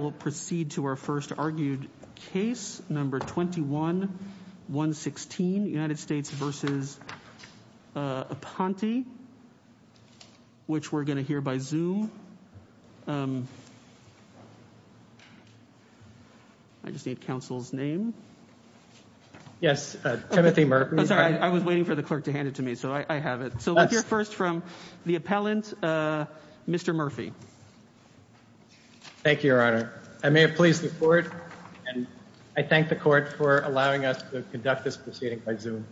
We will proceed to our first argued case, number 21-116, United States v. Aponte, which we're going to hear by Zoom. I just need counsel's name. Yes, Timothy Murphy. I'm sorry, I was waiting for the clerk to hand it to me, so I have it. So let's hear first from the appellant, Mr. Murphy. Thank you, Your Honor. I may have pleased the court, and I thank the court for allowing us to conduct this proceeding by Zoom.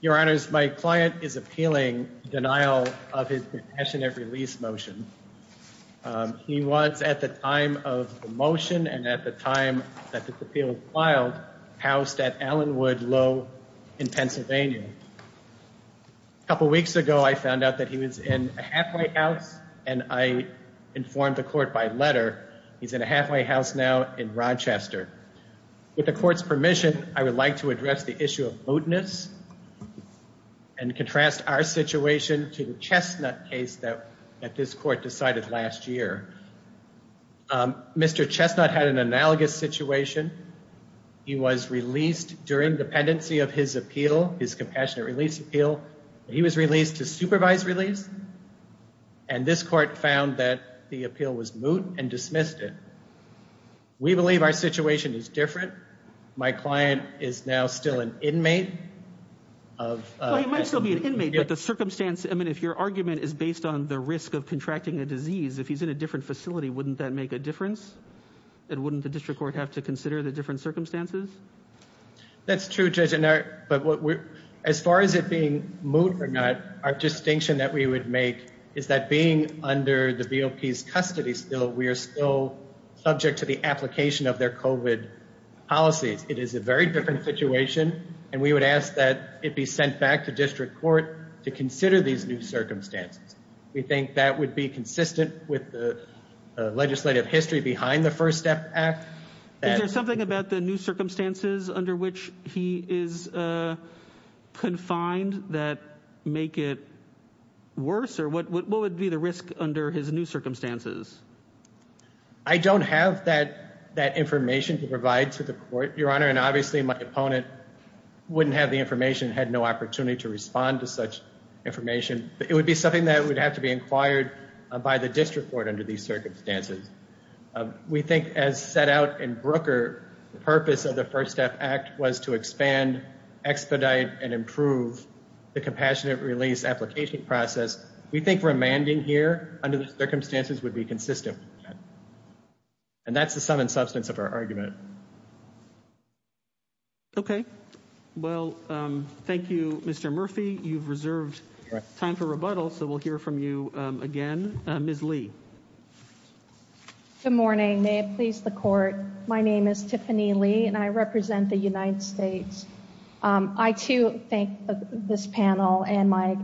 Your Honors, my client is appealing denial of his detention and release motion. He was at the time of the motion and at the time that the appeal was filed, housed at Allenwood Low in Pennsylvania. Thank you. A couple weeks ago, I found out that he was in a halfway house, and I informed the court by letter he's in a halfway house now in Rochester. With the court's permission, I would like to address the issue of moteness and contrast our situation to the Chestnut case that this court decided last year. Mr. Chestnut had an analogous situation. He was released during dependency of his appeal, his compassionate release appeal. He was released to supervised release, and this court found that the appeal was moot and dismissed it. We believe our situation is different. My client is now still an inmate of... Well, he might still be an inmate, but the circumstance, I mean, if your argument is based on the risk of contracting a disease, if he's in a different facility, wouldn't that make a difference? And wouldn't the district court have to consider the different circumstances? That's true, Judge, but as far as it being moot or not, our distinction that we would make is that being under the BOP's custody still, we are still subject to the application of their COVID policies. It is a very different situation, and we would ask that it be sent back to district court to consider these new circumstances. We think that would be consistent with the legislative history behind the First Step Act. Is there something about the new circumstances under which he is confined that make it worse? What would be the risk under his new circumstances? I don't have that information to provide to the court, Your Honor, and obviously my opponent wouldn't have the information, had no opportunity to respond to such information. It would be something that would have to be inquired by the district court under these circumstances. We think, as set out in Brooker, the purpose of the First Step Act was to expand, expedite, and improve the compassionate release application process. We think remanding here under the circumstances would be consistent, and that's the sum and substance of our argument. Okay, well, thank you, Mr. Murphy. You've reserved time for rebuttal, so we'll hear from you again. Ms. Lee. Good morning. May it please the court, my name is Tiffany Lee, and I represent the United States. I too thank this panel and my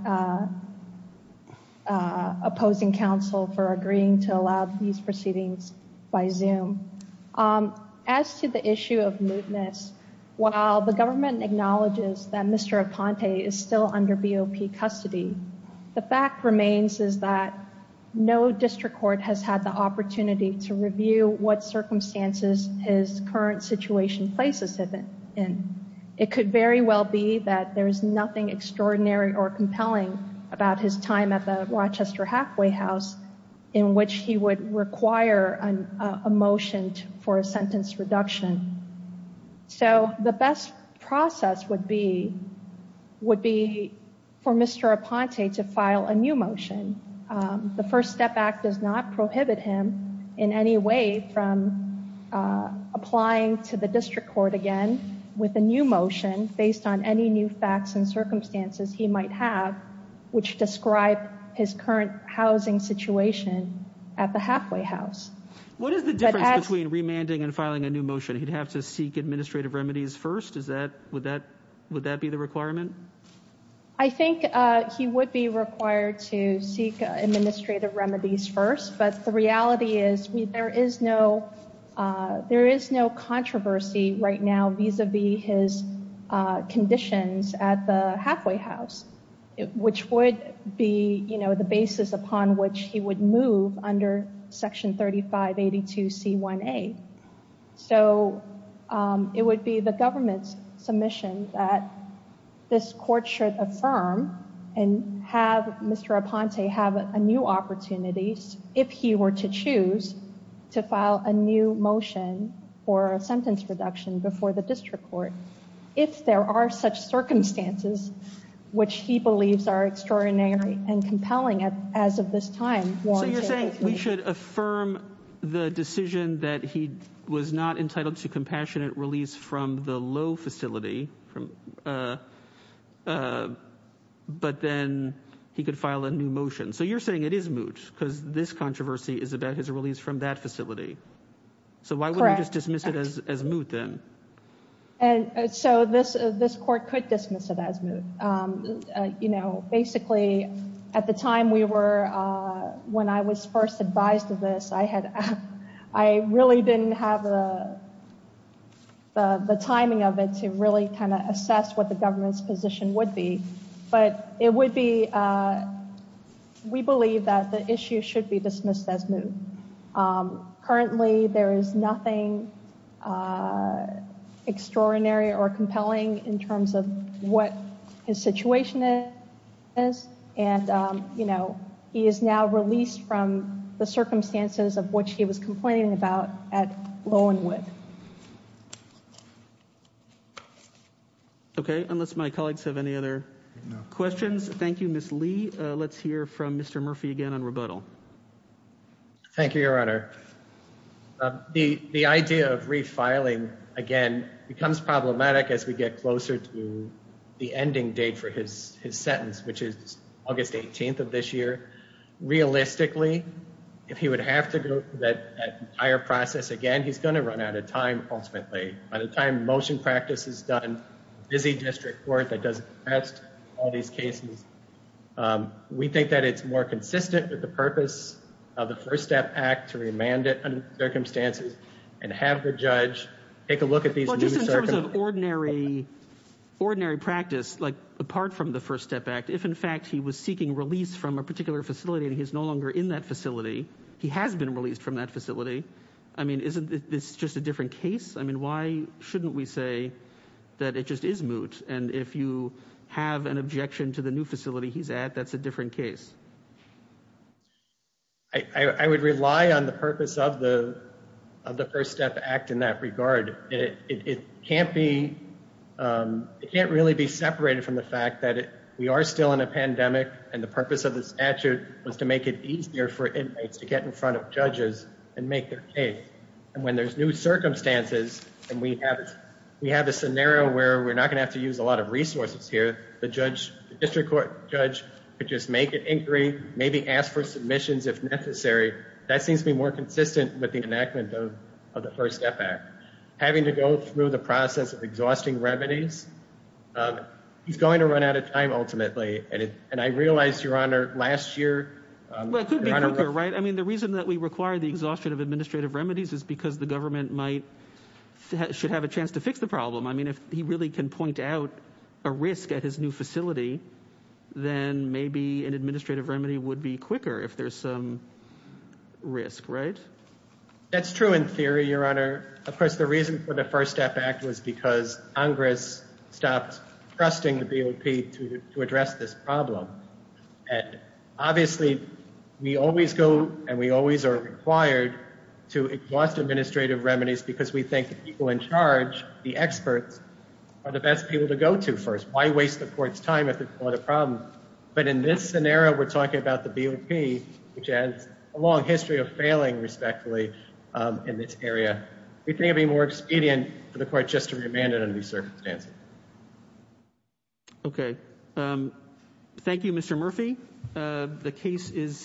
opposing counsel for agreeing to allow these proceedings by Zoom. As to the issue of mootness, while the government acknowledges that Mr. Aconte is still under BOP custody, the fact remains is that no district court has had the opportunity to review what circumstances his current situation places him in. It could very well be that there's nothing extraordinary or compelling about his time at the Rochester halfway house in which he would require a motion for a sentence reduction. So, the best process would be for Mr. Aconte to file a new motion. The First Step Act does not prohibit him in any way from applying to the district court again with a new motion based on any new facts and circumstances he might have which describe his current housing situation at the halfway house. What is the difference between remanding and filing a new motion? He'd have to seek administrative remedies first? Would that be the requirement? I think he would be required to seek administrative remedies first, but the reality is there is no controversy right now vis-a-vis his conditions at the halfway house, which would be the basis upon which he would move under Section 3582C1A. So it would be the government's submission that this court should affirm and have Mr. Aconte have a new opportunity, if he were to choose, to file a new motion for a sentence reduction before the district court if there are such circumstances which he believes are extraordinary and compelling as of this time. So you're saying we should affirm the decision that he was not entitled to compassionate release from the low facility, but then he could file a new motion. So you're saying it is moot because this controversy is about his release from that facility. So why wouldn't we just dismiss it as moot then? And so this court could dismiss it as moot. You know, basically at the time we were, when I was first advised of this, I really didn't have the timing of it to really kind of assess what the government's position would be. But it would be, we believe that the issue should be dismissed as moot. And currently there is nothing extraordinary or compelling in terms of what his situation is. And, you know, he is now released from the circumstances of which he was complaining about at Lowenwood. Okay, unless my colleagues have any other questions. Thank you, Ms. Lee. Let's hear from Mr. Murphy again on rebuttal. Thank you, Your Honor. The idea of refiling, again, becomes problematic as we get closer to the ending date for his sentence, which is August 18th of this year. Realistically, if he would have to go through that entire process again, he's going to run out of time ultimately. By the time the motion practice is done, busy district court that does the rest, all these cases, we think that it's more consistent with the purpose of the First Step Act to remand it under the circumstances and have the judge take a look at these new circumstances. Well, just in terms of ordinary practice, like apart from the First Step Act, if in fact he was seeking release from a particular facility and he's no longer in that facility, he has been released from that facility, I mean, isn't this just a different case? I mean, why shouldn't we say that it just is moot? And if you have an objection to the new facility he's at, that's a different case. I would rely on the purpose of the First Step Act in that regard. It can't be, it can't really be separated from the fact that we are still in a pandemic and the purpose of the statute was to make it easier for inmates to get in front of judges and make their case. And when there's new circumstances and we have, we have a scenario where we're not going to have to use a lot of resources here, the judge, the district court judge, could just make an inquiry, maybe ask for submissions if necessary. That seems to be more consistent with the enactment of the First Step Act. Having to go through the process of exhausting remedies, he's going to run out of time ultimately. And I realize, Your Honor, last year, Your Honor- Well, it could be quicker, right? I mean, the reason that we require the exhaustion of administrative remedies is because the government might, should have a chance to fix the problem. I mean, if he really can point out a risk at his new facility, then maybe an administrative remedy would be quicker if there's some risk, right? That's true in theory, Your Honor. Of course, the reason for the First Step Act was because Congress stopped trusting the BOP to address this problem. And obviously, we always go and we always are required to exhaust administrative remedies because we think the people in charge, the experts, are the best people to go to first. Why waste the court's time if there's a lot of problems? But in this scenario, we're talking about the BOP, which has a long history of failing respectfully in this area. We think it would be more expedient for the court just to remand it under these circumstances. Okay. Thank you, Mr. Murphy. The case is-